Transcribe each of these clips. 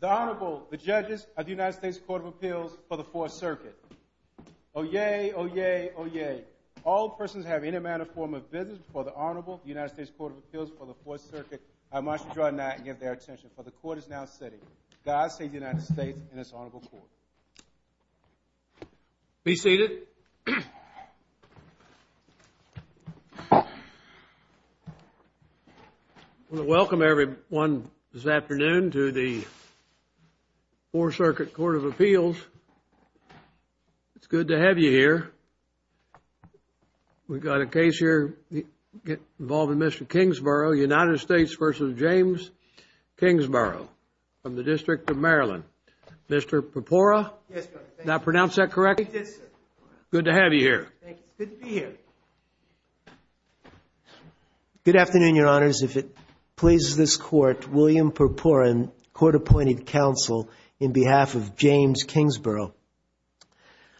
The Honorable, the Judges of the United States Court of Appeals for the Fourth Circuit. Oyez, oyez, oyez. All persons who have any manner or form of business before the Honorable of the United States Court of Appeals for the Fourth Circuit are admonished to draw not and give their attention, for the Court is now sitting. God save the United States and its Honorable Court. Be seated. I want to welcome everyone this afternoon to the Fourth Circuit Court of Appeals. It's good to have you here. We've got a case here involving Mr. Kingsborough, United States v. James Kingsborough from the Good afternoon, Your Honors. If it pleases this Court, William Perporin, Court-Appointed Counsel, in behalf of James Kingsborough.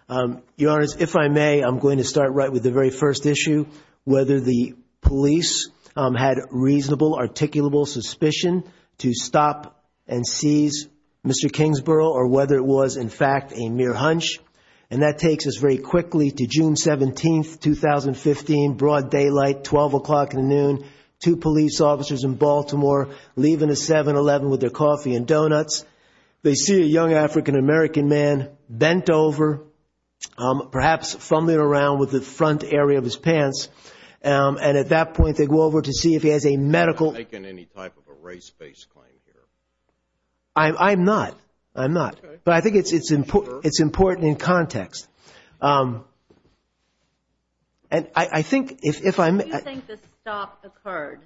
Your Honors, if I may, I'm going to start right with the very first issue, whether the police had reasonable, articulable suspicion to stop and seize Mr. Kingsborough or whether it was, in fact, a mere hunch. And that takes us very quickly to June 17, 2015, broad daylight, 12 o'clock in the noon, two police officers in Baltimore leaving a 7-Eleven with their coffee and donuts. They see a young African-American man bent over, perhaps fumbling around with the front area of his pants, and at that point they go over to see if he has a medical I'm not making any type of a race-based claim here. I'm not. I'm not. But I think it's important in context. And I think if I'm When do you think the stop occurred?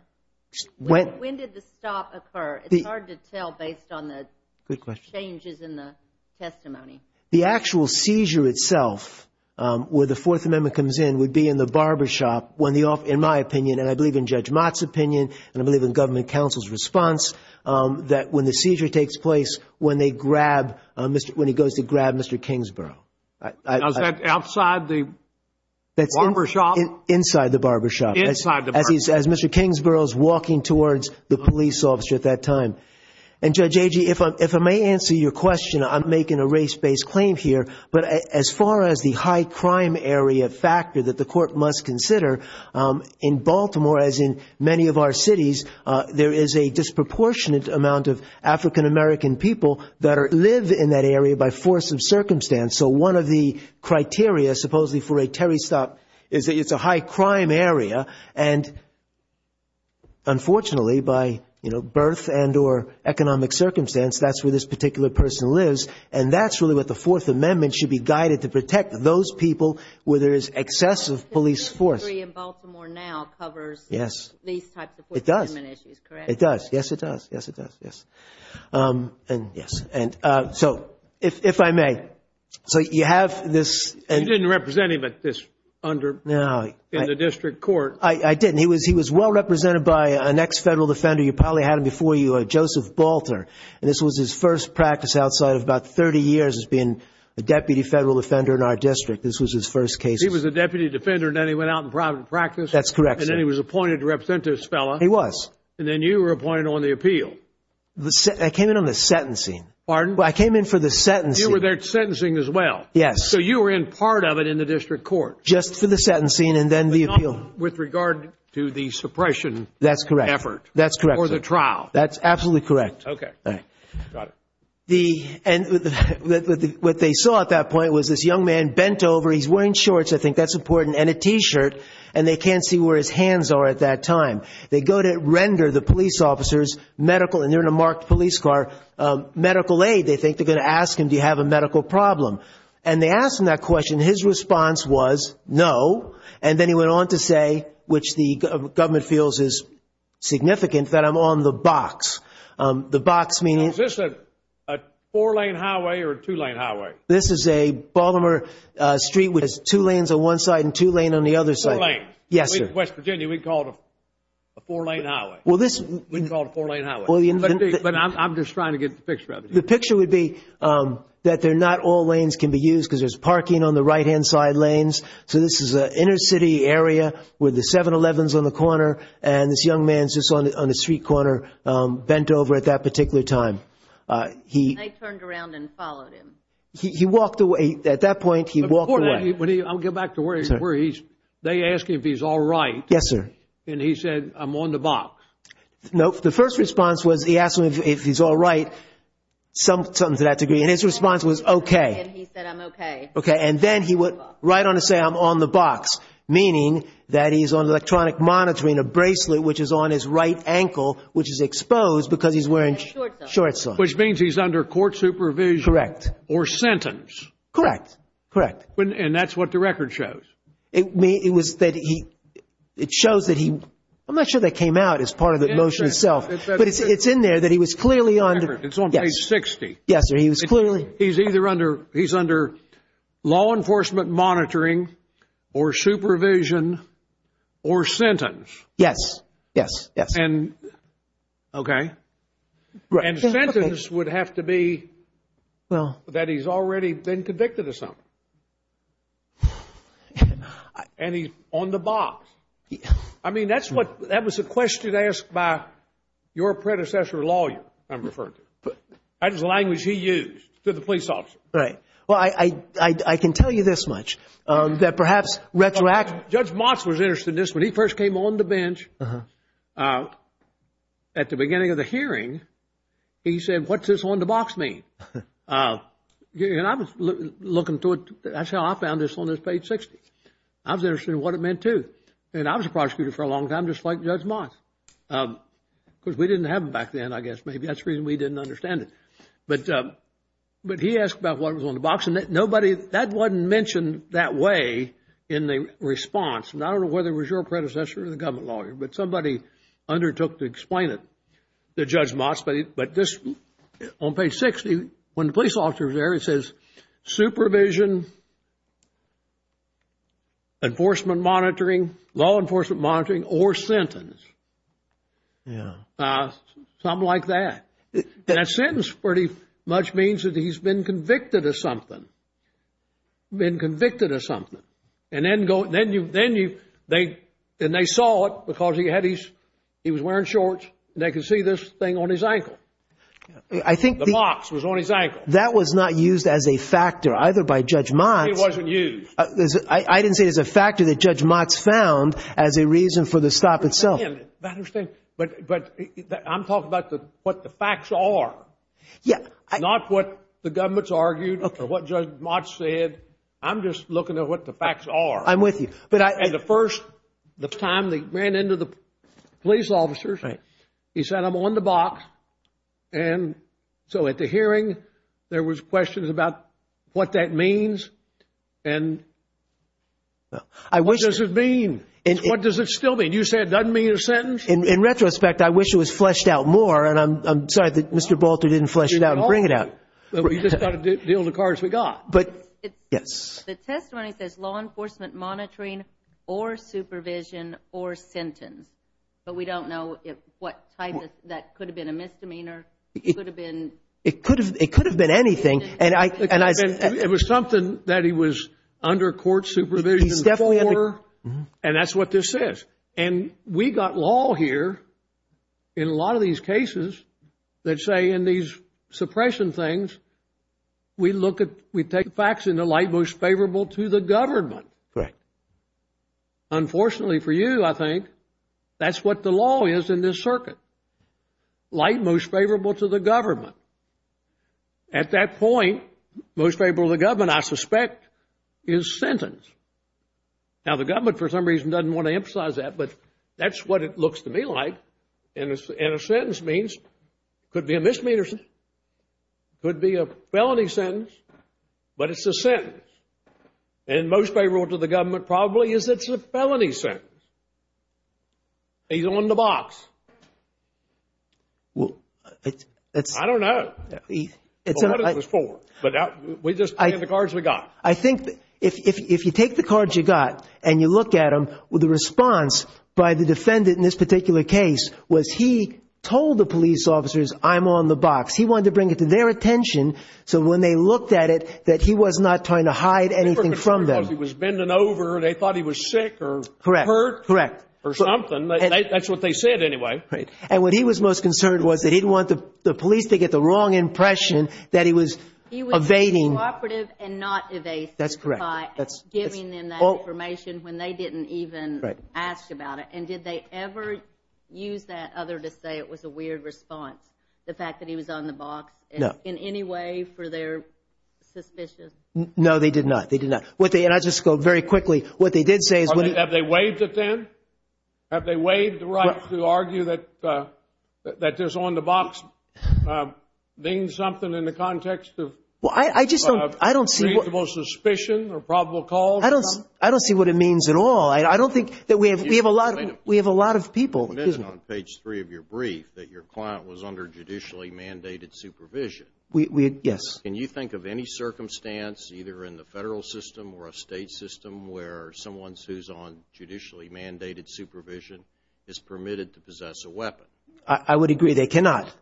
When did the stop occur? It's hard to tell based on the Good question. Changes in the testimony. The actual seizure itself, where the Fourth Amendment comes in, would be in the barbershop when the officer, in my opinion, and I believe in Judge Mott's opinion, and I believe in when he goes to grab Mr. Kingsborough. Outside the barbershop? Inside the barbershop. Inside the barbershop. As Mr. Kingsborough is walking towards the police officer at that time. And Judge Agee, if I may answer your question, I'm making a race-based claim here, but as far as the high crime area factor that the Court must consider, in Baltimore, as in many of our cities, there is a disproportionate amount of African-American people that live in that area by force of circumstance. So one of the criteria, supposedly, for a Terry stop is that it's a high crime area. And unfortunately, by birth and or economic circumstance, that's where this particular person lives. And that's really what the Fourth Amendment should be guided to protect, those people where there is excessive police force. Your degree in Baltimore now covers these types of Fourth Amendment issues, correct? It does. It does. Yes, it does. Yes, it does. Yes. And so, if I may, so you have this... You didn't represent him at this under... No.... in the district court. I didn't. He was well represented by an ex-Federal Defender. You probably had him before you, Joseph Balter. And this was his first practice outside of about 30 years as being a Deputy Federal Defender in our district. This was his first case. He was a Deputy Defender and then he went out in private practice. That's correct, sir. And then he was appointed to represent this fellow. He was. And then you were appointed on the appeal. I came in on the sentencing. Pardon? Well, I came in for the sentencing. You were there sentencing as well? Yes. So, you were in part of it in the district court? Just for the sentencing and then the appeal. But not with regard to the suppression... That's correct.... effort. That's correct, sir.... or the trial. That's absolutely correct. Okay. All right. Got it. And what they saw at that point was this young man bent over. He's wearing shorts. I think that's important. And a T-shirt. And they can't see where his hands are at that time. They go to render the police officers medical, and they're in a marked police car, medical aid. They think they're going to ask him, do you have a medical problem? And they ask him that question. His response was no. And then he went on to say, which the government feels is significant, that I'm on the box. The box meaning... A four-lane highway or a two-lane highway? This is a Baltimore street with two lanes on one side and two lanes on the other side. Four lanes. Yes, sir. In West Virginia, we'd call it a four-lane highway. We'd call it a four-lane highway. But I'm just trying to get the picture up. The picture would be that not all lanes can be used because there's parking on the right-hand side lanes. So this is an inner city area with the 7-Elevens on the corner. And this young man is just on the street corner, bent over at that particular time. And I turned around and followed him. He walked away. At that point, he walked away. I'll get back to where he's... they ask him if he's all right. Yes, sir. And he said, I'm on the box. Nope. The first response was he asked him if he's all right, something to that degree. And his response was okay. And he said, I'm okay. Okay. And then he went right on to say, I'm on the box, meaning that he's on electronic monitoring, meaning a bracelet which is on his right ankle which is exposed because he's wearing shorts on. Which means he's under court supervision. Correct. Or sentence. Correct. Correct. And that's what the record shows. It was that he... it shows that he... I'm not sure that came out as part of the motion itself. But it's in there that he was clearly under... It's on page 60. Yes, sir. He was clearly... Yes. Yes. Yes. And... Okay. And the sentence would have to be that he's already been convicted of something. And he's on the box. I mean, that's what... that was a question asked by your predecessor lawyer, I'm referring to. That is the language he used to the police officer. Right. Well, I can tell you this much, that perhaps retroactive... At the beginning of the hearing, he said, what's this on the box mean? And I was looking to it... that's how I found this on this page 60. I was interested in what it meant, too. And I was a prosecutor for a long time, just like Judge Moss. Because we didn't have them back then, I guess. Maybe that's the reason we didn't understand it. But he asked about what was on the box. And nobody... that wasn't mentioned that way in the response. And I don't know whether it was your predecessor or the government lawyer. But somebody undertook to explain it to Judge Moss. But this... on page 60, when the police officer was there, it says, supervision, enforcement monitoring, law enforcement monitoring, or sentence. Yeah. Something like that. And a sentence pretty much means that he's been convicted of something. Been convicted of something. And then you... and they saw it because he had his... he was wearing shorts. And they could see this thing on his ankle. The box was on his ankle. That was not used as a factor either by Judge Moss. It wasn't used. I didn't say it was a factor that Judge Moss found as a reason for the stop itself. But I'm talking about what the facts are. Yeah. Not what the government's argued or what Judge Moss said. I'm just looking at what the facts are. I'm with you. And the first time they ran into the police officers, he said, I'm on the box. And so at the hearing, there was questions about what that means. And what does it mean? What does it still mean? You said it doesn't mean a sentence? In retrospect, I wish it was fleshed out more. And I'm sorry that Mr. Bolter didn't flesh it out and bring it out. We just got to deal with the cards we got. The testimony says law enforcement monitoring or supervision or sentence. But we don't know what type. That could have been a misdemeanor. It could have been anything. It was something that he was under court supervision before. And that's what this says. And we got law here in a lot of these cases that say in these suppression things, we look at, we take facts in the light most favorable to the government. Right. Unfortunately for you, I think, that's what the law is in this circuit. Light most favorable to the government. At that point, most favorable to the government, I suspect, is sentence. Now, the government, for some reason, doesn't want to emphasize that, but that's what it looks to me like. And a sentence means, could be a misdemeanor. Could be a felony sentence. But it's a sentence. And most favorable to the government probably is it's a felony sentence. He's on the box. I don't know. What is this for? But we just take the cards we got. I think if you take the cards you got and you look at them, the response by the defendant in this particular case was he told the police officers, I'm on the box. He wanted to bring it to their attention so when they looked at it, that he was not trying to hide anything from them. He was bending over. They thought he was sick or hurt. Correct. Or something. That's what they said anyway. Right. And what he was most concerned was that he didn't want the police to get the wrong impression that he was evading. He was cooperative and not evasive. That's correct. By giving them that information when they didn't even ask about it. And did they ever use that other to say it was a weird response, the fact that he was on the box? No. In any way for their suspicions? No, they did not. They did not. And I'll just go very quickly. What they did say is when he. Have they waived it then? Have they waived the right to argue that this on the box means something in the context of reasonable suspicion or probable cause? I don't see what it means at all. I don't think that we have a lot of people. You mentioned on page three of your brief that your client was under judicially mandated supervision. Yes. Can you think of any circumstance, either in the federal system or a state system, where someone who's on judicially mandated supervision is permitted to possess a weapon? I would agree. They cannot.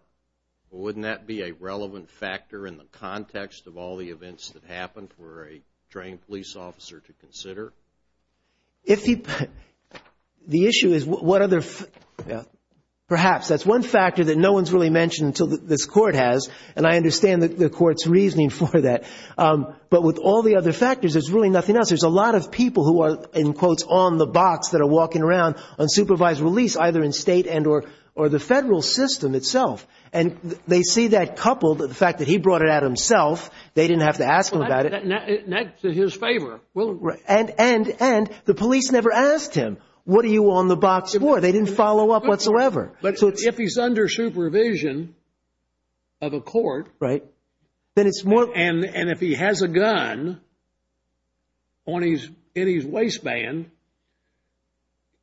Wouldn't that be a relevant factor in the context of all the events that happened for a trained police officer to consider? If he. The issue is what other. Perhaps that's one factor that no one's really mentioned until this court has. And I understand the court's reasoning for that. But with all the other factors, there's really nothing else. There's a lot of people who are, in quotes, on the box that are walking around unsupervised release, either in state and or the federal system itself. And they see that coupled with the fact that he brought it out himself. They didn't have to ask him about it. And that's in his favor. And the police never asked him, what are you on the box for? They didn't follow up whatsoever. But if he's under supervision of a court. Right. Then it's more. And if he has a gun in his waistband,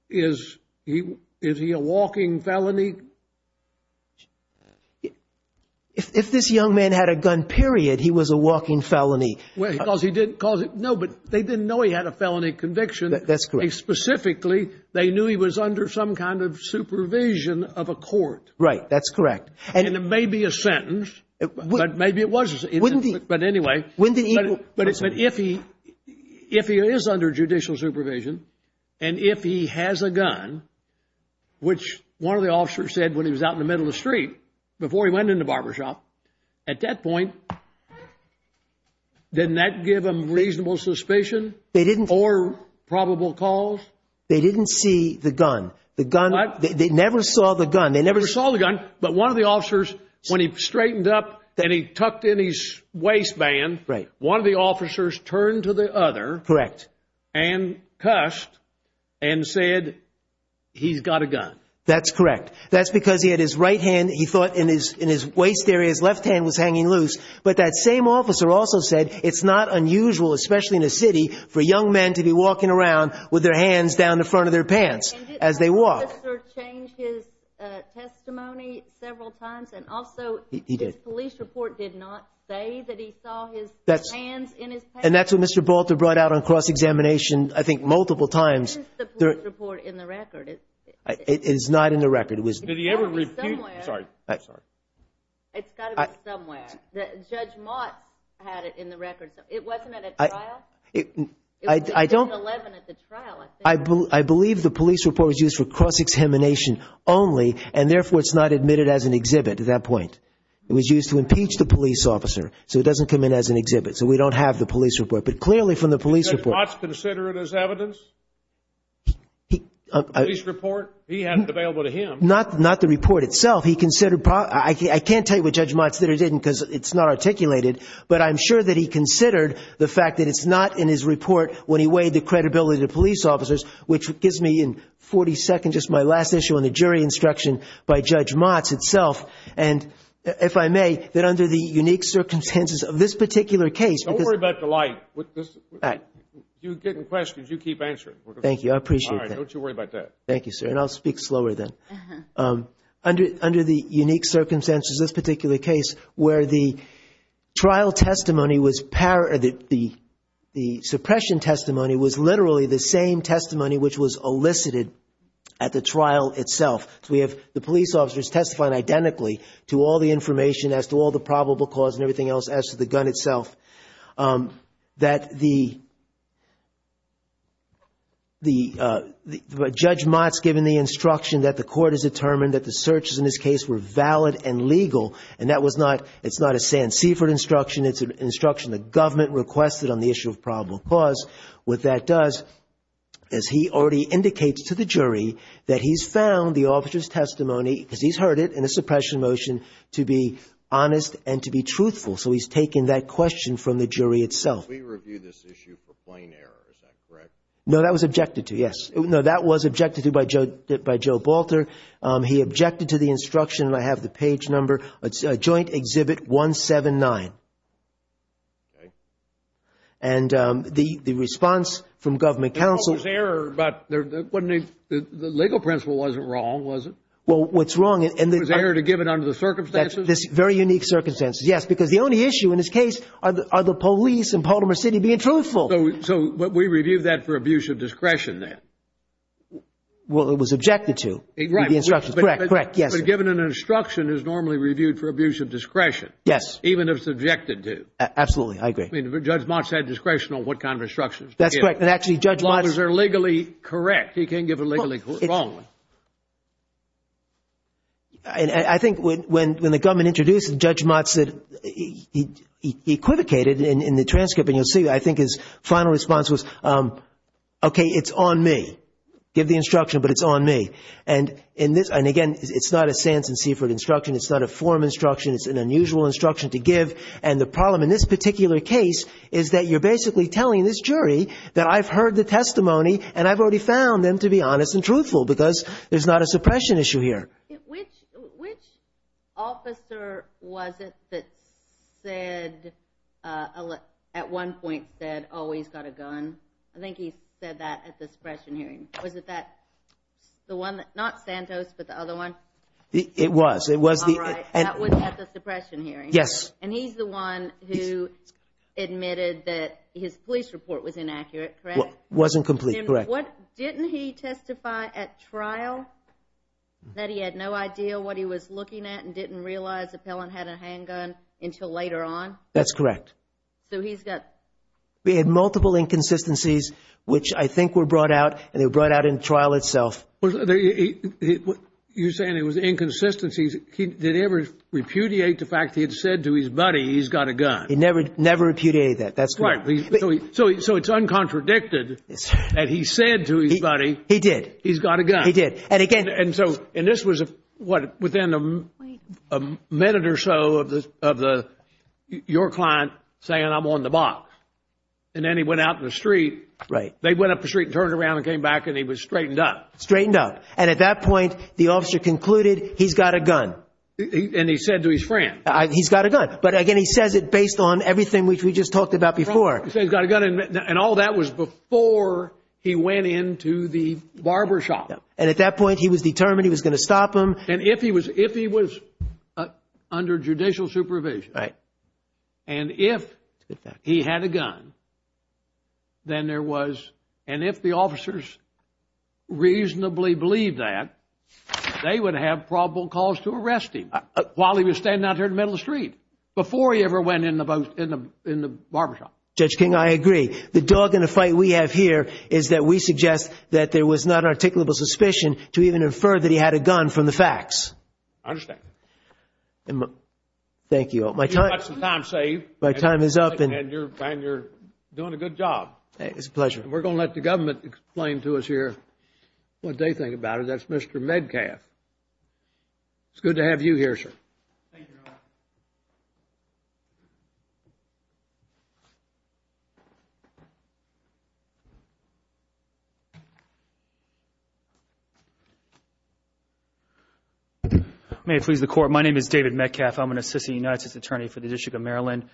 is he a walking felony? If this young man had a gun, period, he was a walking felony. Well, because he didn't cause it. No, but they didn't know he had a felony conviction. That's correct. Specifically, they knew he was under some kind of supervision of a court. Right. That's correct. And it may be a sentence. But maybe it wasn't. But anyway. But if he if he is under judicial supervision and if he has a gun, which one of the officers said when he was out in the middle of the street, before he went into the barbershop at that point. Didn't that give him reasonable suspicion? They didn't or probable cause. They didn't see the gun. The gun. They never saw the gun. They never saw the gun. But one of the officers, when he straightened up, then he tucked in his waistband. Right. One of the officers turned to the other. Correct. And cussed and said, he's got a gun. That's correct. That's because he had his right hand. He thought in his in his waist area, his left hand was hanging loose. But that same officer also said it's not unusual, especially in a city, for young men to be walking around with their hands down the front of their pants as they walk. And didn't that officer change his testimony several times? And also, his police report did not say that he saw his hands in his pants. And that's what Mr. Balter brought out on cross-examination, I think, multiple times. Isn't the police report in the record? It is not in the record. It's got to be somewhere. Sorry. I'm sorry. It's got to be somewhere. Judge Mott had it in the record. It wasn't at a trial? I don't. It wasn't 11 at the trial, I think. I believe the police report was used for cross-examination only, and therefore it's not admitted as an exhibit at that point. It was used to impeach the police officer so it doesn't come in as an exhibit. So we don't have the police report. But clearly from the police report. Did Judge Mott consider it as evidence, the police report? He had it available to him. Not the report itself. He considered – I can't tell you what Judge Mott said or didn't because it's not articulated, but I'm sure that he considered the fact that it's not in his report when he weighed the credibility of police officers, which gives me in 40 seconds just my last issue on the jury instruction by Judge Mott itself. And if I may, that under the unique circumstances of this particular case. Don't worry about the light. You get in questions, you keep answering. Thank you. I appreciate that. All right. Don't you worry about that. Thank you, sir. And I'll speak slower then. Under the unique circumstances of this particular case where the trial testimony was – the suppression testimony was literally the same testimony which was elicited at the trial itself. So we have the police officers testifying identically to all the information as to all the probable cause and everything else as to the gun itself. That the – Judge Mott's given the instruction that the court has determined that the searches in this case were valid and legal, and that was not – it's not a San Seaford instruction. It's an instruction the government requested on the issue of probable cause. What that does is he already indicates to the jury that he's found the officer's testimony, because he's heard it in a suppression motion, to be honest and to be truthful. So he's taken that question from the jury itself. We review this issue for plain error. Is that correct? No, that was objected to, yes. No, that was objected to by Joe Balter. He objected to the instruction, and I have the page number, Joint Exhibit 179. Okay. And the response from government counsel – There was error, but the legal principle wasn't wrong, was it? Well, what's wrong – Was error to give it under the circumstances? Very unique circumstances, yes, because the only issue in this case are the police in Baltimore City being truthful. So we reviewed that for abuse of discretion then? Well, it was objected to in the instructions. Correct, correct, yes. But given an instruction, it's normally reviewed for abuse of discretion. Yes. Even if it's objected to. Absolutely, I agree. I mean, Judge Mott said discretion on what kind of instructions to give. That's correct. And actually, Judge Mott – As long as they're legally correct. He can't give it legally wrongly. I think when the government introduced it, Judge Mott said – he equivocated in the transcript, and you'll see, I think his final response was, okay, it's on me. Give the instruction, but it's on me. And again, it's not a Sanson-Seaford instruction. It's not a forum instruction. It's an unusual instruction to give. And the problem in this particular case is that you're basically telling this jury that I've heard the testimony and I've already found them to be honest and truthful because there's not a suppression issue here. Which officer was it that said – at one point said, oh, he's got a gun? I think he said that at the suppression hearing. Was it that – the one that – not Santos, but the other one? It was. It was the – All right, that was at the suppression hearing. Yes. And he's the one who admitted that his police report was inaccurate, correct? Wasn't complete, correct. Didn't he testify at trial that he had no idea what he was looking at and didn't realize the appellant had a handgun until later on? That's correct. So he's got – He had multiple inconsistencies, which I think were brought out, and they were brought out in trial itself. You're saying it was inconsistencies. Did he ever repudiate the fact he had said to his buddy he's got a gun? He never repudiated that. That's correct. So it's uncontradicted that he said to his buddy he's got a gun. He did. He did. And again – And so – and this was within a minute or so of your client saying I'm on the box. And then he went out in the street. Right. They went up the street and turned around and came back and he was straightened up. Straightened up. And at that point the officer concluded he's got a gun. And he said to his friend. He's got a gun. But again, he says it based on everything which we just talked about before. He said he's got a gun, and all that was before he went into the barbershop. And at that point he was determined he was going to stop him. And if he was under judicial supervision – Right. And if he had a gun, then there was – and if the officers reasonably believed that, they would have probable cause to arrest him while he was standing out there in the middle of the street before he ever went in the barbershop. Judge King, I agree. The dog in the fight we have here is that we suggest that there was not articulable suspicion to even infer that he had a gun from the facts. I understand. Thank you. My time is up. And you're doing a good job. It's a pleasure. We're going to let the government explain to us here what they think about it. That's Mr. Medcalf. Thank you, Your Honor. Thank you, Your Honor. May it please the Court, my name is David Medcalf. I'm an assistant United States attorney for the District of Maryland,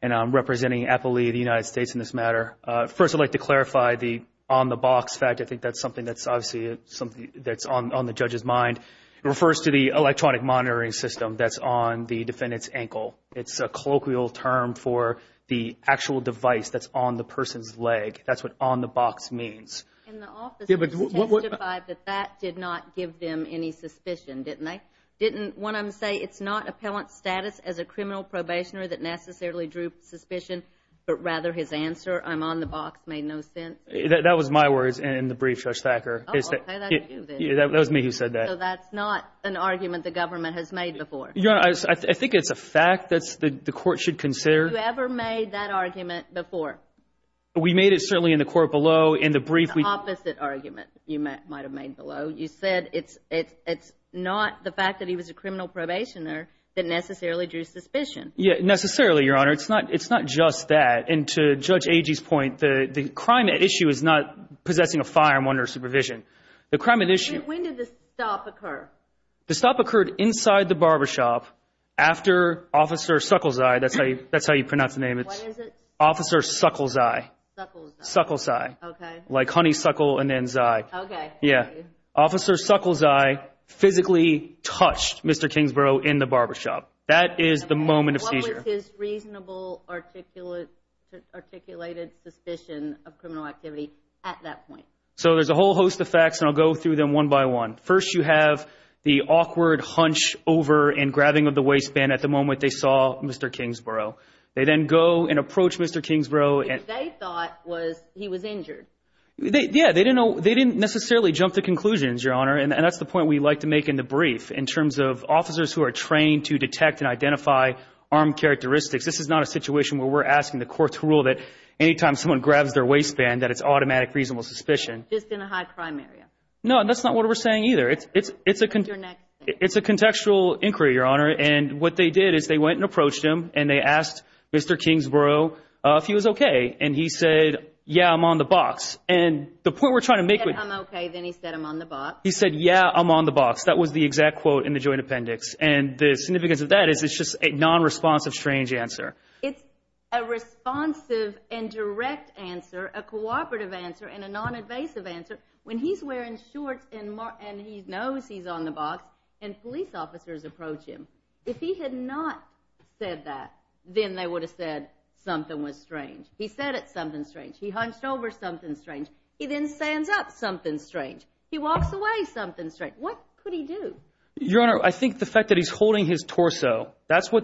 and I'm representing APALE, the United States, in this matter. First, I'd like to clarify the on-the-box fact. I think that's something that's obviously something that's on the judge's mind. It refers to the electronic monitoring system that's on the defendant's ankle. It's a colloquial term for the actual device that's on the person's leg. That's what on-the-box means. And the officers testified that that did not give them any suspicion, didn't they? Didn't one of them say, it's not appellant status as a criminal probationer that necessarily drew suspicion, but rather his answer, I'm on the box, made no sense? That was my words in the brief, Judge Thacker. Oh, okay. That was you then. Yeah, that was me who said that. So that's not an argument the government has made before? Your Honor, I think it's a fact that the Court should consider. Have you ever made that argument before? We made it certainly in the court below in the brief. It's the opposite argument you might have made below. You said it's not the fact that he was a criminal probationer that necessarily drew suspicion. Yeah, necessarily, Your Honor. It's not just that. And to Judge Agee's point, the crime at issue is not possessing a firearm under supervision. The crime at issue— When did the stop occur? The stop occurred inside the barbershop after Officer Suckelseye, that's how you pronounce the name. What is it? Officer Suckelseye. Suckelseye. Suckelseye. Okay. Like honeysuckle and then zye. Okay. Yeah. Officer Suckelseye physically touched Mr. Kingsborough in the barbershop. That is the moment of seizure. What was his reasonable articulated suspicion of criminal activity at that point? So there's a whole host of facts, and I'll go through them one by one. First you have the awkward hunch over and grabbing of the waistband at the moment they saw Mr. Kingsborough. They then go and approach Mr. Kingsborough. Which they thought was he was injured. Yeah, they didn't necessarily jump to conclusions, Your Honor, and that's the point we like to make in the brief in terms of officers who are trained to detect and identify armed characteristics. This is not a situation where we're asking the court to rule that anytime someone grabs their waistband that it's automatic reasonable suspicion. Just in a high-crime area. No, and that's not what we're saying either. It's a contextual inquiry, Your Honor, and what they did is they went and approached him and they asked Mr. Kingsborough if he was okay, and he said, yeah, I'm on the box. And the point we're trying to make with He said, I'm okay, then he said, I'm on the box. He said, yeah, I'm on the box. That was the exact quote in the joint appendix. And the significance of that is it's just a non-responsive strange answer. It's a responsive and direct answer, a cooperative answer, and a non-invasive answer when he's wearing shorts and he knows he's on the box and police officers approach him. If he had not said that, then they would have said something was strange. He said it's something strange. He hunched over something strange. He then stands up something strange. He walks away something strange. What could he do? Your Honor, I think the fact that he's holding his torso, that's where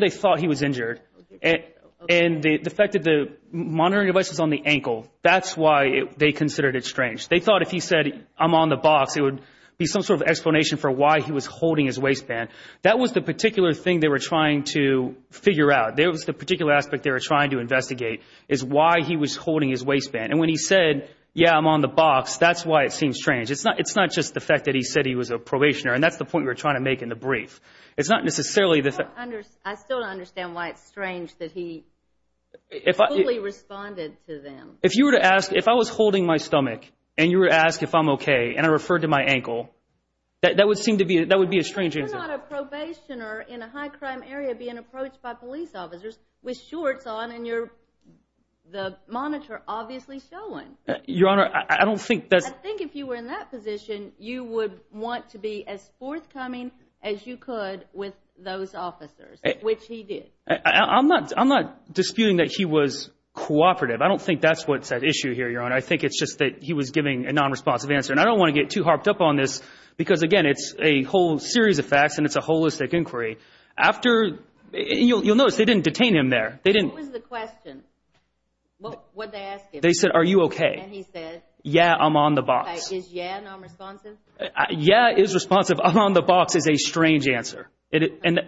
they thought he was injured, and the fact that the monitoring device was on the ankle, that's why they considered it strange. They thought if he said, I'm on the box, it would be some sort of explanation for why he was holding his waistband. That was the particular thing they were trying to figure out. That was the particular aspect they were trying to investigate is why he was holding his waistband. And when he said, yeah, I'm on the box, that's why it seems strange. It's not just the fact that he said he was a probationer, and that's the point we're trying to make in the brief. It's not necessarily the fact. I still don't understand why it's strange that he fully responded to them. If I was holding my stomach and you were to ask if I'm okay and I referred to my ankle, that would be a strange answer. You're not a probationer in a high-crime area being approached by police officers with shorts on and the monitor obviously showing. Your Honor, I don't think that's – I think if you were in that position, you would want to be as forthcoming as you could with those officers, which he did. I'm not disputing that he was cooperative. I don't think that's what's at issue here, Your Honor. I think it's just that he was giving a nonresponsive answer. And I don't want to get too harped up on this because, again, it's a whole series of facts and it's a holistic inquiry. You'll notice they didn't detain him there. What was the question? What did they ask him? They said, are you okay? And he said. Yeah, I'm on the box. Okay. Is yeah nonresponsive? Yeah is responsive. I'm on the box is a strange answer. And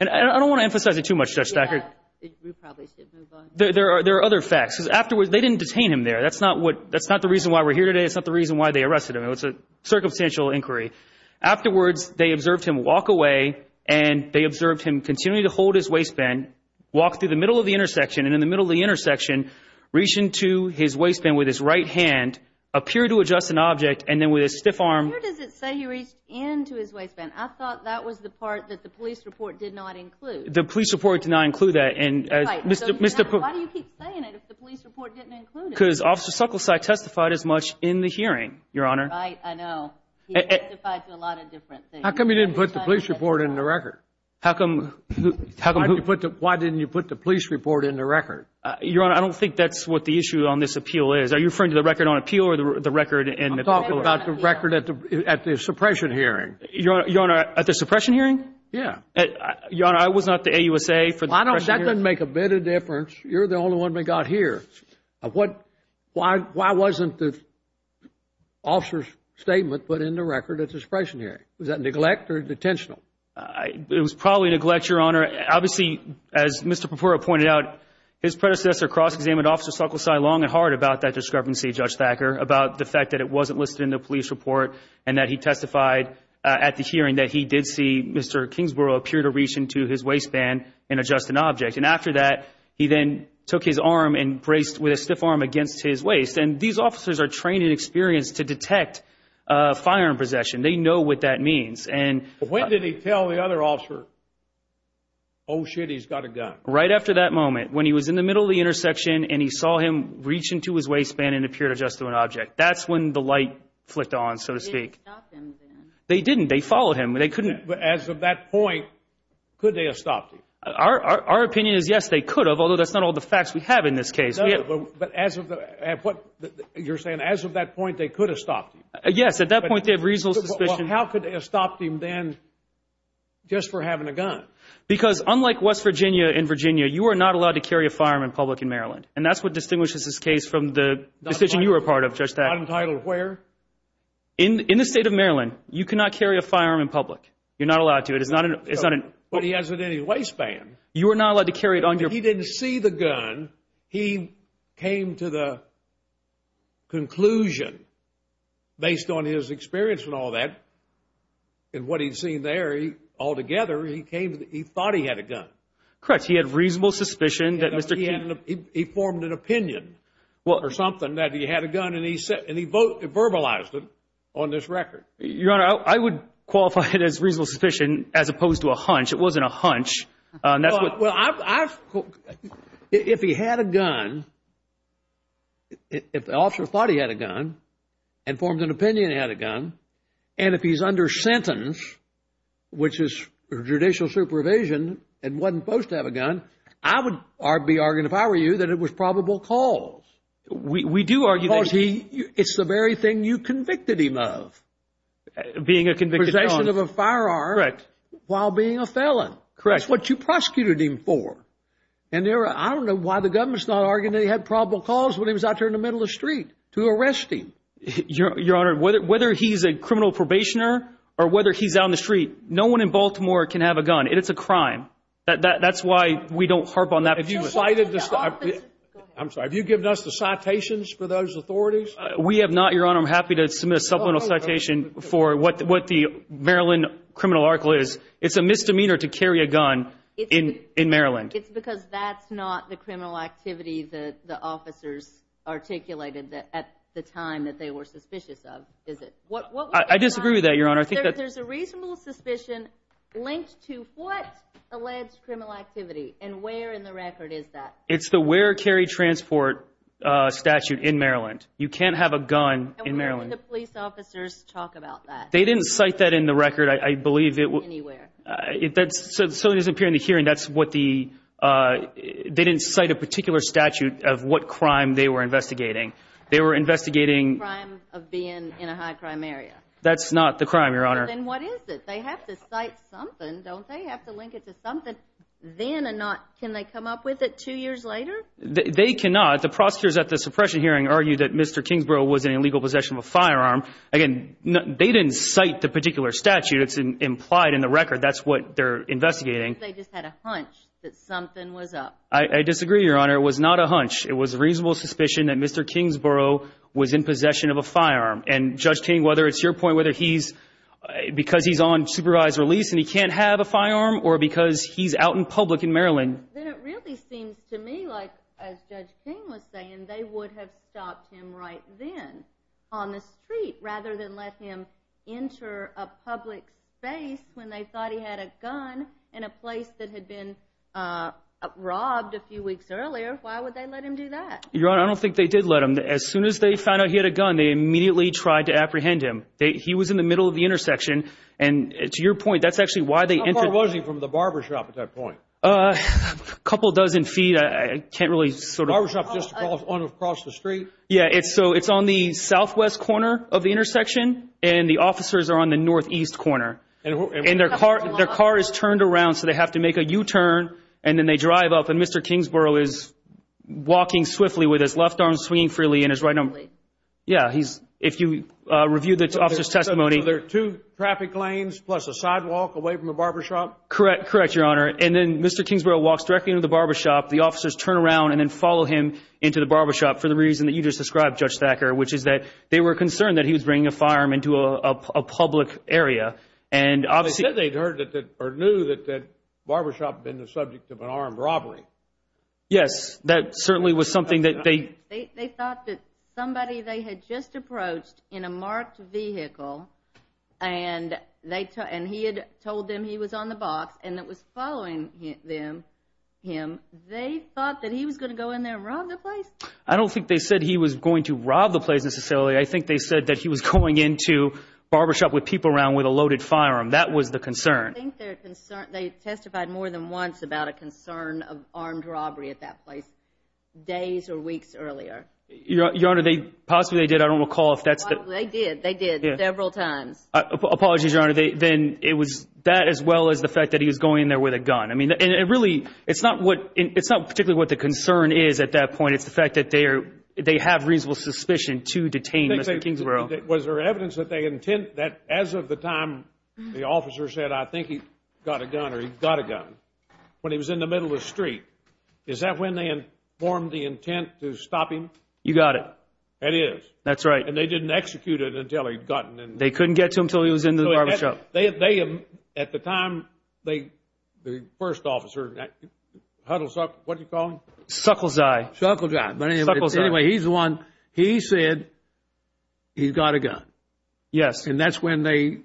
I don't want to emphasize it too much, Judge Stackert. Yeah, we probably should move on. There are other facts. Because afterwards, they didn't detain him there. That's not the reason why we're here today. That's not the reason why they arrested him. It was a circumstantial inquiry. Afterwards, they observed him walk away and they observed him continue to hold his waistband, walk through the middle of the intersection, and in the middle of the intersection, reaching to his waistband with his right hand, appeared to adjust an object, and then with a stiff arm. Where does it say he reached into his waistband? I thought that was the part that the police report did not include. The police report did not include that. Right. Why do you keep saying it if the police report didn't include it? Because Officer Sucklesack testified as much in the hearing, Your Honor. Right. I know. He testified to a lot of different things. How come you didn't put the police report in the record? Why didn't you put the police report in the record? Your Honor, I don't think that's what the issue on this appeal is. Are you referring to the record on appeal or the record in appeal? I'm talking about the record at the suppression hearing. Your Honor, at the suppression hearing? Yes. Your Honor, I was not the AUSA for the suppression hearing. That doesn't make a bit of difference. You're the only one we got here. Why wasn't the officer's statement put in the record at the suppression hearing? Was that neglect or detentional? It was probably neglect, Your Honor. Obviously, as Mr. Perpura pointed out, his predecessor cross-examined Officer Sucklesack long and hard about that discrepancy, Judge Thacker, about the fact that it wasn't listed in the police report and that he testified at the hearing that he did see Mr. Kingsborough appear to reach into his waistband and adjust an object. After that, he then took his arm and braced with a stiff arm against his waist. These officers are trained and experienced to detect firearm possession. They know what that means. When did he tell the other officer, oh, shit, he's got a gun? Right after that moment, when he was in the middle of the intersection and he saw him reach into his waistband and appear to adjust to an object. That's when the light flicked on, so to speak. They didn't stop him then. They didn't. They followed him. But as of that point, could they have stopped him? Our opinion is yes, they could have, although that's not all the facts we have in this case. But as of that point, you're saying as of that point, they could have stopped him? Yes, at that point, they have reasonable suspicion. How could they have stopped him then just for having a gun? Because unlike West Virginia and Virginia, you are not allowed to carry a firearm in public in Maryland, and that's what distinguishes this case from the decision you were a part of, Judge Thacker. Not entitled where? In the state of Maryland, you cannot carry a firearm in public. You're not allowed to. But he has it in his waistband. You are not allowed to carry it on your waistband. He didn't see the gun. He came to the conclusion, based on his experience and all that, and what he'd seen there, altogether, he thought he had a gun. Correct. He had reasonable suspicion that Mr. King... He formed an opinion or something that he had a gun, and he verbalized it on this record. Your Honor, I would qualify it as reasonable suspicion as opposed to a hunch. It wasn't a hunch. Well, I... If he had a gun, if the officer thought he had a gun and formed an opinion he had a gun, and if he's under sentence, which is judicial supervision and wasn't supposed to have a gun, I would be arguing, if I were you, that it was probable cause. We do argue that... Because it's the very thing you convicted him of. Being a convicted... Possession of a firearm while being a felon. Correct. That's what you prosecuted him for. And I don't know why the government's not arguing that he had probable cause when he was out there in the middle of the street to arrest him. Your Honor, whether he's a criminal probationer or whether he's out in the street, no one in Baltimore can have a gun. It's a crime. That's why we don't harp on that. Have you cited... I'm sorry, have you given us the citations for those authorities? We have not, Your Honor. I'm happy to submit a supplemental citation for what the Maryland criminal article is. It's a misdemeanor to carry a gun in Maryland. It's because that's not the criminal activity that the officers articulated at the time that they were suspicious of, is it? I disagree with that, Your Honor. There's a reasonable suspicion linked to what alleged criminal activity, and where in the record is that? It's the where carry transport statute in Maryland. You can't have a gun in Maryland. And where did the police officers talk about that? They didn't cite that in the record, I believe. Anywhere. So it doesn't appear in the hearing, that's what the... They didn't cite a particular statute of what crime they were investigating. They were investigating... Crime of being in a high-crime area. That's not the crime, Your Honor. Then what is it? They have to cite something, don't they? Have to link it to something then and not... Can they come up with it two years later? They cannot. The prosecutors at the suppression hearing argued that Mr. Kingsborough was in illegal possession of a firearm. Again, they didn't cite the particular statute. It's implied in the record. That's what they're investigating. They just had a hunch that something was up. I disagree, Your Honor. It was not a hunch. It was a reasonable suspicion that Mr. Kingsborough was in possession of a firearm. And, Judge King, whether it's your point, whether he's because he's on supervised release and he can't have a firearm or because he's out in public in Maryland. Then it really seems to me like, as Judge King was saying, they would have stopped him right then on the street rather than let him enter a public space when they thought he had a gun in a place that had been robbed a few weeks earlier. Why would they let him do that? Your Honor, I don't think they did let him. As soon as they found out he had a gun, they immediately tried to apprehend him. He was in the middle of the intersection. And to your point, that's actually why they entered... How far was he from the barbershop at that point? A couple dozen feet. I can't really sort of... Barbershop just across the street? Yeah, so it's on the southwest corner of the intersection, and the officers are on the northeast corner. And their car is turned around, so they have to make a U-turn, and then they drive up. And Mr. Kingsborough is walking swiftly with his left arm swinging freely and his right arm... If you review the officer's testimony... So there are two traffic lanes plus a sidewalk away from the barbershop? Correct, Your Honor. And then Mr. Kingsborough walks directly into the barbershop. The officers turn around and then follow him into the barbershop for the reason that you just described, Judge Thacker, which is that they were concerned that he was bringing a firearm into a public area. They said they'd heard or knew that the barbershop had been the subject of an armed robbery. Yes, that certainly was something that they... They thought that somebody they had just approached in a marked vehicle, and he had told them he was on the box and that was following him, they thought that he was going to go in there and rob the place? I don't think they said he was going to rob the place necessarily. I think they said that he was going into the barbershop with people around with a loaded firearm. That was the concern. I think they testified more than once about a concern of armed robbery at that place, days or weeks earlier. Your Honor, possibly they did. I don't recall if that's the... They did. They did several times. Apologies, Your Honor. Then it was that as well as the fact that he was going in there with a gun. It's not particularly what the concern is at that point. It's the fact that they have reasonable suspicion to detain Mr. Kingsborough. Was there evidence that as of the time the officer said, I think he's got a gun or he's got a gun, when he was in the middle of the street, is that when they informed the intent to stop him? You got it. It is. That's right. And they didn't execute it until he'd gotten... They couldn't get to him until he was in the barbershop. At the time, the first officer, what do you call him? Suckle Zai. Suckle Zai. Anyway, he's the one, he said he's got a gun. Yes. And that's when they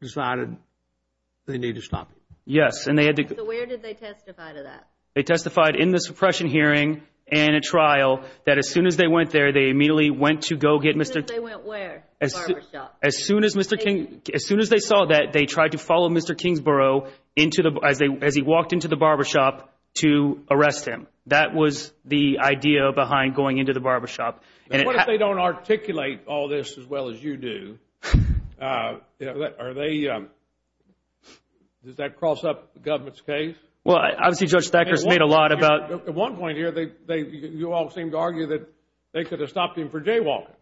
decided they needed to stop him. Yes. So where did they testify to that? They testified in the suppression hearing and at trial that as soon as they went there, they immediately went to go get Mr.... As soon as they went where? The barbershop. The barbershop. As soon as they saw that, they tried to follow Mr. Kingsborough as he walked into the barbershop to arrest him. That was the idea behind going into the barbershop. And what if they don't articulate all this as well as you do? Does that cross up the government's case? Well, obviously Judge Thacker made a lot about... At one point here, you all seemed to argue that they could have stopped him for jaywalking.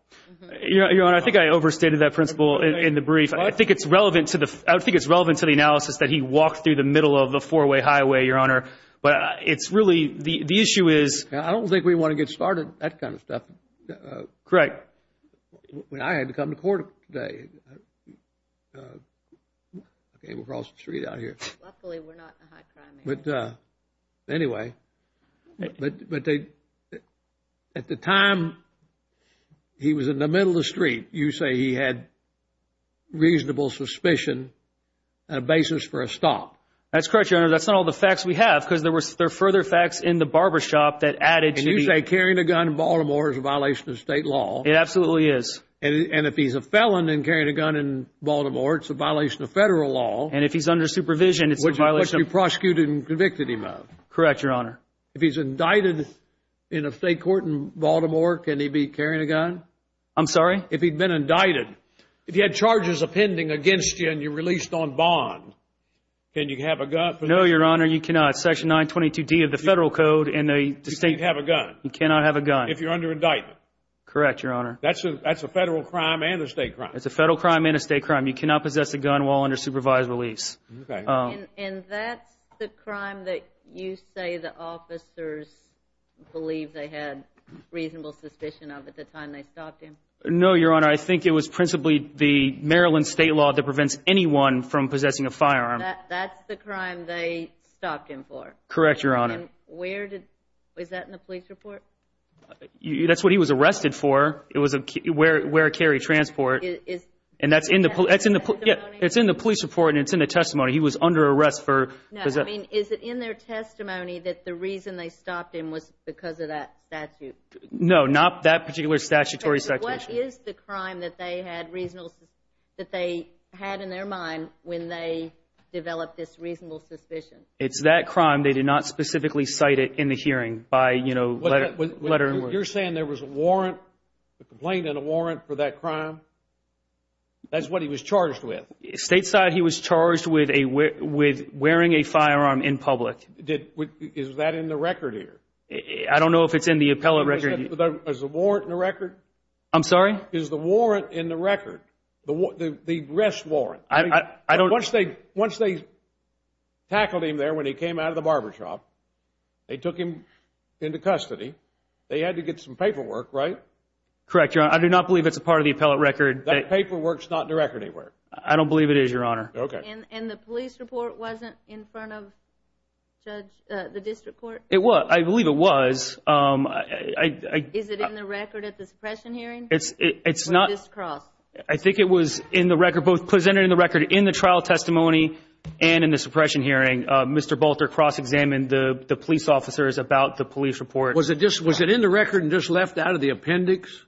Your Honor, I think I overstated that principle in the brief. I think it's relevant to the... I think it's relevant to the analysis that he walked through the middle of the four-way highway, Your Honor. But it's really... The issue is... I don't think we want to get started, that kind of stuff. Correct. When I had to come to court today, I came across the street out here. Luckily, we're not in a high crime area. Anyway, at the time, he was in the middle of the street. You say he had reasonable suspicion and a basis for a stop. That's correct, Your Honor. That's not all the facts we have because there are further facts in the barbershop that added to the... And you say carrying a gun in Baltimore is a violation of state law. It absolutely is. And if he's a felon and carrying a gun in Baltimore, it's a violation of federal law. And if he's under supervision, it's a violation of... Which you prosecuted and convicted him of. Correct, Your Honor. If he's indicted in a state court in Baltimore, can he be carrying a gun? I'm sorry? If he'd been indicted. If you had charges appending against you and you're released on bond, can you have a gun? No, Your Honor, you cannot. Section 922D of the federal code and the state... You can't have a gun. You cannot have a gun. If you're under indictment. Correct, Your Honor. That's a federal crime and a state crime. It's a federal crime and a state crime. You cannot possess a gun while under supervised release. Okay. And that's the crime that you say the officers believed they had reasonable suspicion of at the time they stopped him? No, Your Honor, I think it was principally the Maryland state law that prevents anyone from possessing a firearm. That's the crime they stopped him for? Correct, Your Honor. And where did... Was that in the police report? That's what he was arrested for. It was a wear and carry transport. And that's in the police... No, I mean, is it in their testimony that the reason they stopped him was because of that statute? No, not that particular statutory section. What is the crime that they had reasonable... that they had in their mind when they developed this reasonable suspicion? It's that crime. They did not specifically cite it in the hearing by, you know, letter and word. You're saying there was a warrant, a complaint and a warrant for that crime? That's what he was charged with? Stateside, he was charged with wearing a firearm in public. Is that in the record here? I don't know if it's in the appellate record. Is the warrant in the record? I'm sorry? Is the warrant in the record, the arrest warrant? I don't... Once they tackled him there when he came out of the barbershop, they took him into custody. They had to get some paperwork, right? Correct, Your Honor. I do not believe it's a part of the appellate record. That paperwork's not in the record anywhere? I don't believe it is, Your Honor. Okay. And the police report wasn't in front of the district court? It was. I believe it was. Is it in the record at the suppression hearing? It's not... Or at this cross? I think it was in the record, both presented in the record in the trial testimony and in the suppression hearing. Mr. Bolter cross-examined the police officers about the police report. Was it in the record and just left out of the appendix?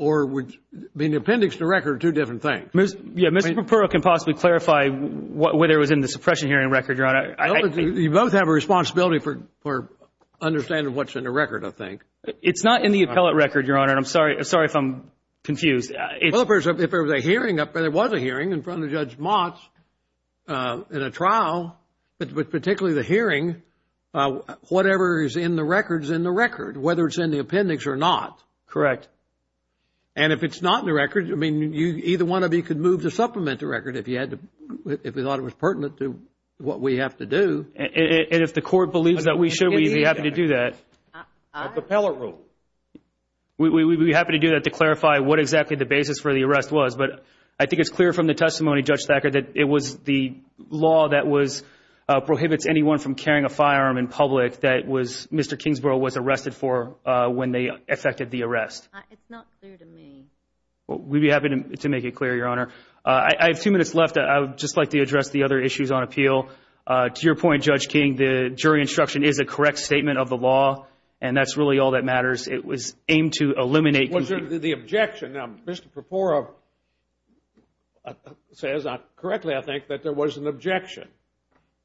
Or would the appendix and the record are two different things? Yeah, Mr. Perpero can possibly clarify whether it was in the suppression hearing record, Your Honor. You both have a responsibility for understanding what's in the record, I think. It's not in the appellate record, Your Honor, and I'm sorry if I'm confused. Well, if there was a hearing in front of Judge Motz in a trial, but particularly the hearing, whatever is in the record is in the record, whether it's in the appendix or not. Correct. And if it's not in the record, I mean, either one of you could move to supplement the record if you thought it was pertinent to what we have to do. And if the Court believes that we should, we'd be happy to do that. Appellate rule. We'd be happy to do that to clarify what exactly the basis for the arrest was. But I think it's clear from the testimony, Judge Thacker, that it was the law that was prohibits anyone from carrying a firearm in public that Mr. Kingsborough was arrested for when they effected the arrest. It's not clear to me. Well, we'd be happy to make it clear, Your Honor. I have two minutes left. I would just like to address the other issues on appeal. To your point, Judge King, the jury instruction is a correct statement of the law, and that's really all that matters. It was aimed to eliminate the objection. Now, Mr. Perpora says correctly, I think, that there was an objection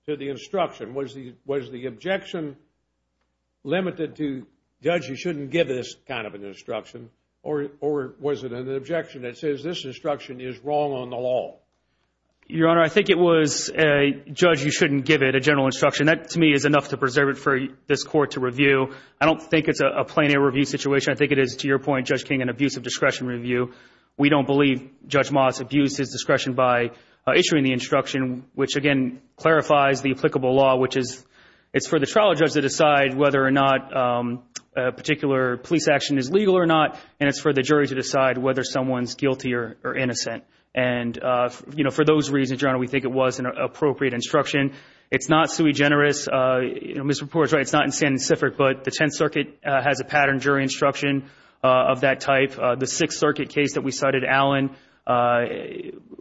to the instruction. Was the objection limited to, Judge, you shouldn't give this kind of an instruction, or was it an objection that says this instruction is wrong on the law? Your Honor, I think it was, Judge, you shouldn't give it a general instruction. That, to me, is enough to preserve it for this Court to review. I don't think it's a plain air review situation. I think it is, to your point, Judge King, an abuse of discretion review. which, again, clarifies the applicable law, which is it's for the trial judge to decide whether or not a particular police action is legal or not, and it's for the jury to decide whether someone's guilty or innocent. And, you know, for those reasons, Your Honor, we think it was an appropriate instruction. It's not sui generis. Mr. Perpora is right. It's not insensitive. But the Tenth Circuit has a pattern jury instruction of that type. The Sixth Circuit case that we cited, Allen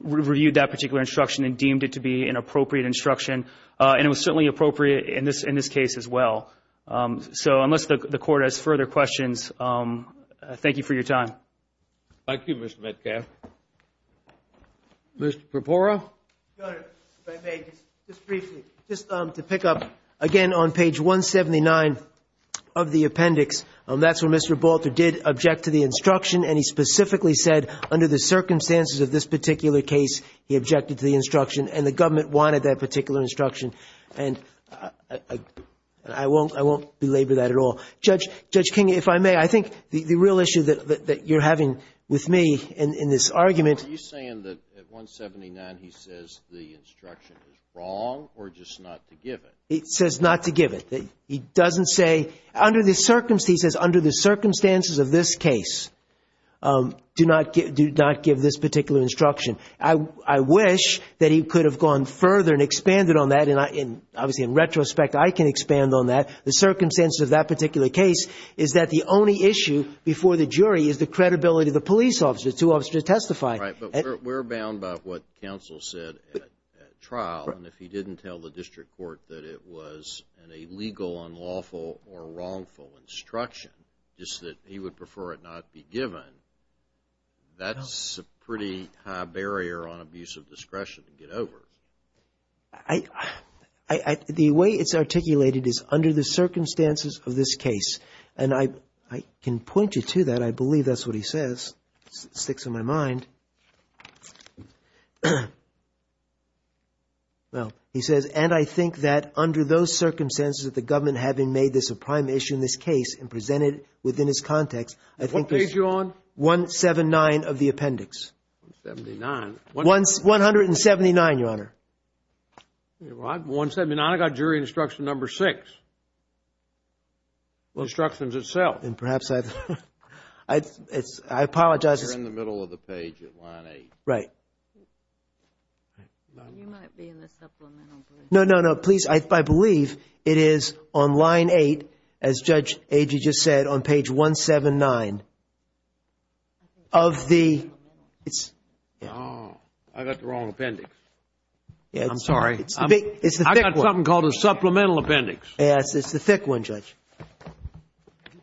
reviewed that particular instruction and deemed it to be an appropriate instruction, and it was certainly appropriate in this case as well. So unless the Court has further questions, thank you for your time. Thank you, Mr. Metcalf. Mr. Perpora? Your Honor, if I may, just briefly, just to pick up, again, on page 179 of the appendix, that's where Mr. Balter did object to the instruction, and he specifically said under the circumstances of this particular case, he objected to the instruction, and the government wanted that particular instruction. And I won't belabor that at all. Judge King, if I may, I think the real issue that you're having with me in this argument Are you saying that at 179 he says the instruction is wrong or just not to give it? He says not to give it. He doesn't say, under the circumstances of this case, do not give this particular instruction. I wish that he could have gone further and expanded on that. Obviously, in retrospect, I can expand on that. The circumstances of that particular case is that the only issue before the jury is the credibility of the police officer to testify. Right. But we're bound by what counsel said at trial, and if he didn't tell the district court that it was an illegal, unlawful, or wrongful instruction, just that he would prefer it not be given, that's a pretty high barrier on abuse of discretion to get over. The way it's articulated is under the circumstances of this case. And I can point you to that. I believe that's what he says. It sticks in my mind. Well, he says, and I think that under those circumstances of the government having made this a prime issue in this case and presented it within its context, I think it's 179 of the appendix. 179? 179, Your Honor. 179. I've got jury instruction number six. Instructions itself. And perhaps I apologize. We're in the middle of the page at line eight. Right. You might be in the supplemental. No, no, no. Please, I believe it is on line eight, as Judge Agee just said, on page 179 of the ‑‑ Oh, I got the wrong appendix. I'm sorry. It's the thick one. I got something called a supplemental appendix. Yes, it's the thick one, Judge.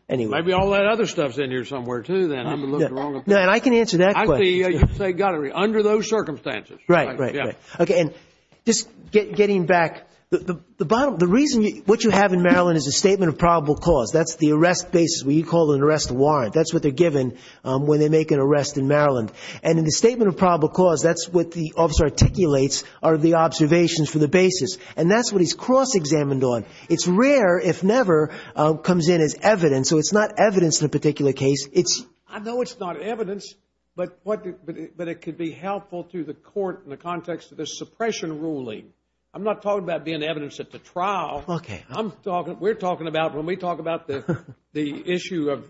Anyway. Maybe all that other stuff is in here somewhere, too, then. No, and I can answer that question. I see you say under those circumstances. Right, right, right. Okay. And just getting back, the reason what you have in Maryland is a statement of probable cause. That's the arrest basis where you call an arrest warrant. That's what they're given when they make an arrest in Maryland. And in the statement of probable cause, that's what the officer articulates are the observations for the basis. And that's what he's cross‑examined on. It's rare, if never, comes in as evidence. So it's not evidence in a particular case. I know it's not evidence, but it could be helpful to the court in the context of the suppression ruling. I'm not talking about being evidence at the trial. Okay. We're talking about, when we talk about the issue of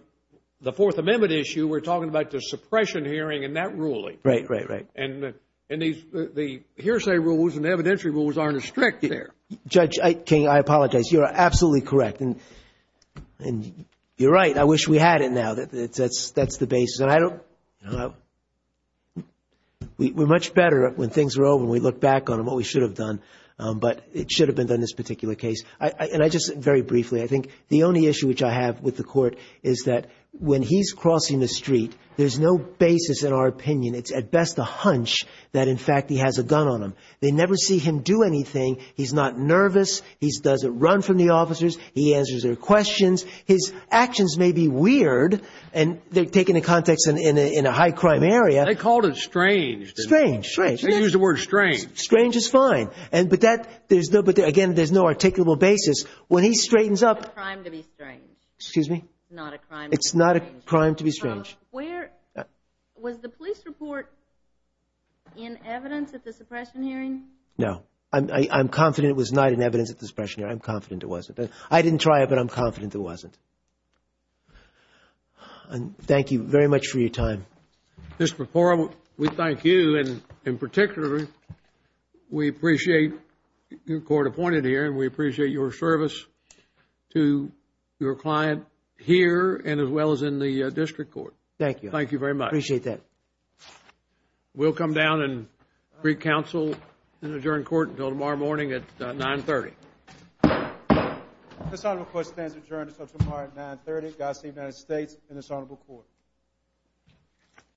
the Fourth Amendment issue, we're talking about the suppression hearing and that ruling. Right, right, right. And the hearsay rules and evidentiary rules aren't as strict there. Judge King, I apologize. You're absolutely correct. And you're right. I wish we had it now. That's the basis. And I don't know. We're much better when things are over and we look back on what we should have done. But it should have been done in this particular case. And I just, very briefly, I think the only issue which I have with the court is that when he's crossing the street, there's no basis in our opinion, it's at best a hunch that, in fact, he has a gun on him. They never see him do anything. He's not nervous. He doesn't run from the officers. He answers their questions. His actions may be weird and they're taken in context in a high crime area. They called it strange. Strange, strange. They used the word strange. Strange is fine. But that, there's no, again, there's no articulable basis. When he straightens up. It's not a crime to be strange. Excuse me? It's not a crime to be strange. It's not a crime to be strange. Where, was the police report in evidence at the suppression hearing? No. I'm confident it was not in evidence at the suppression hearing. I'm confident it wasn't. I didn't try it, but I'm confident it wasn't. Thank you very much for your time. Mr. Perpola, we thank you and, in particular, we appreciate your court appointed here and we appreciate your service to your client here and as well as in the district court. Thank you. Thank you very much. I appreciate that. We'll come down and pre-counsel and adjourn court until tomorrow morning at 930. This honorable court stands adjourned until tomorrow at 930. Godspeed to the United States and this honorable court.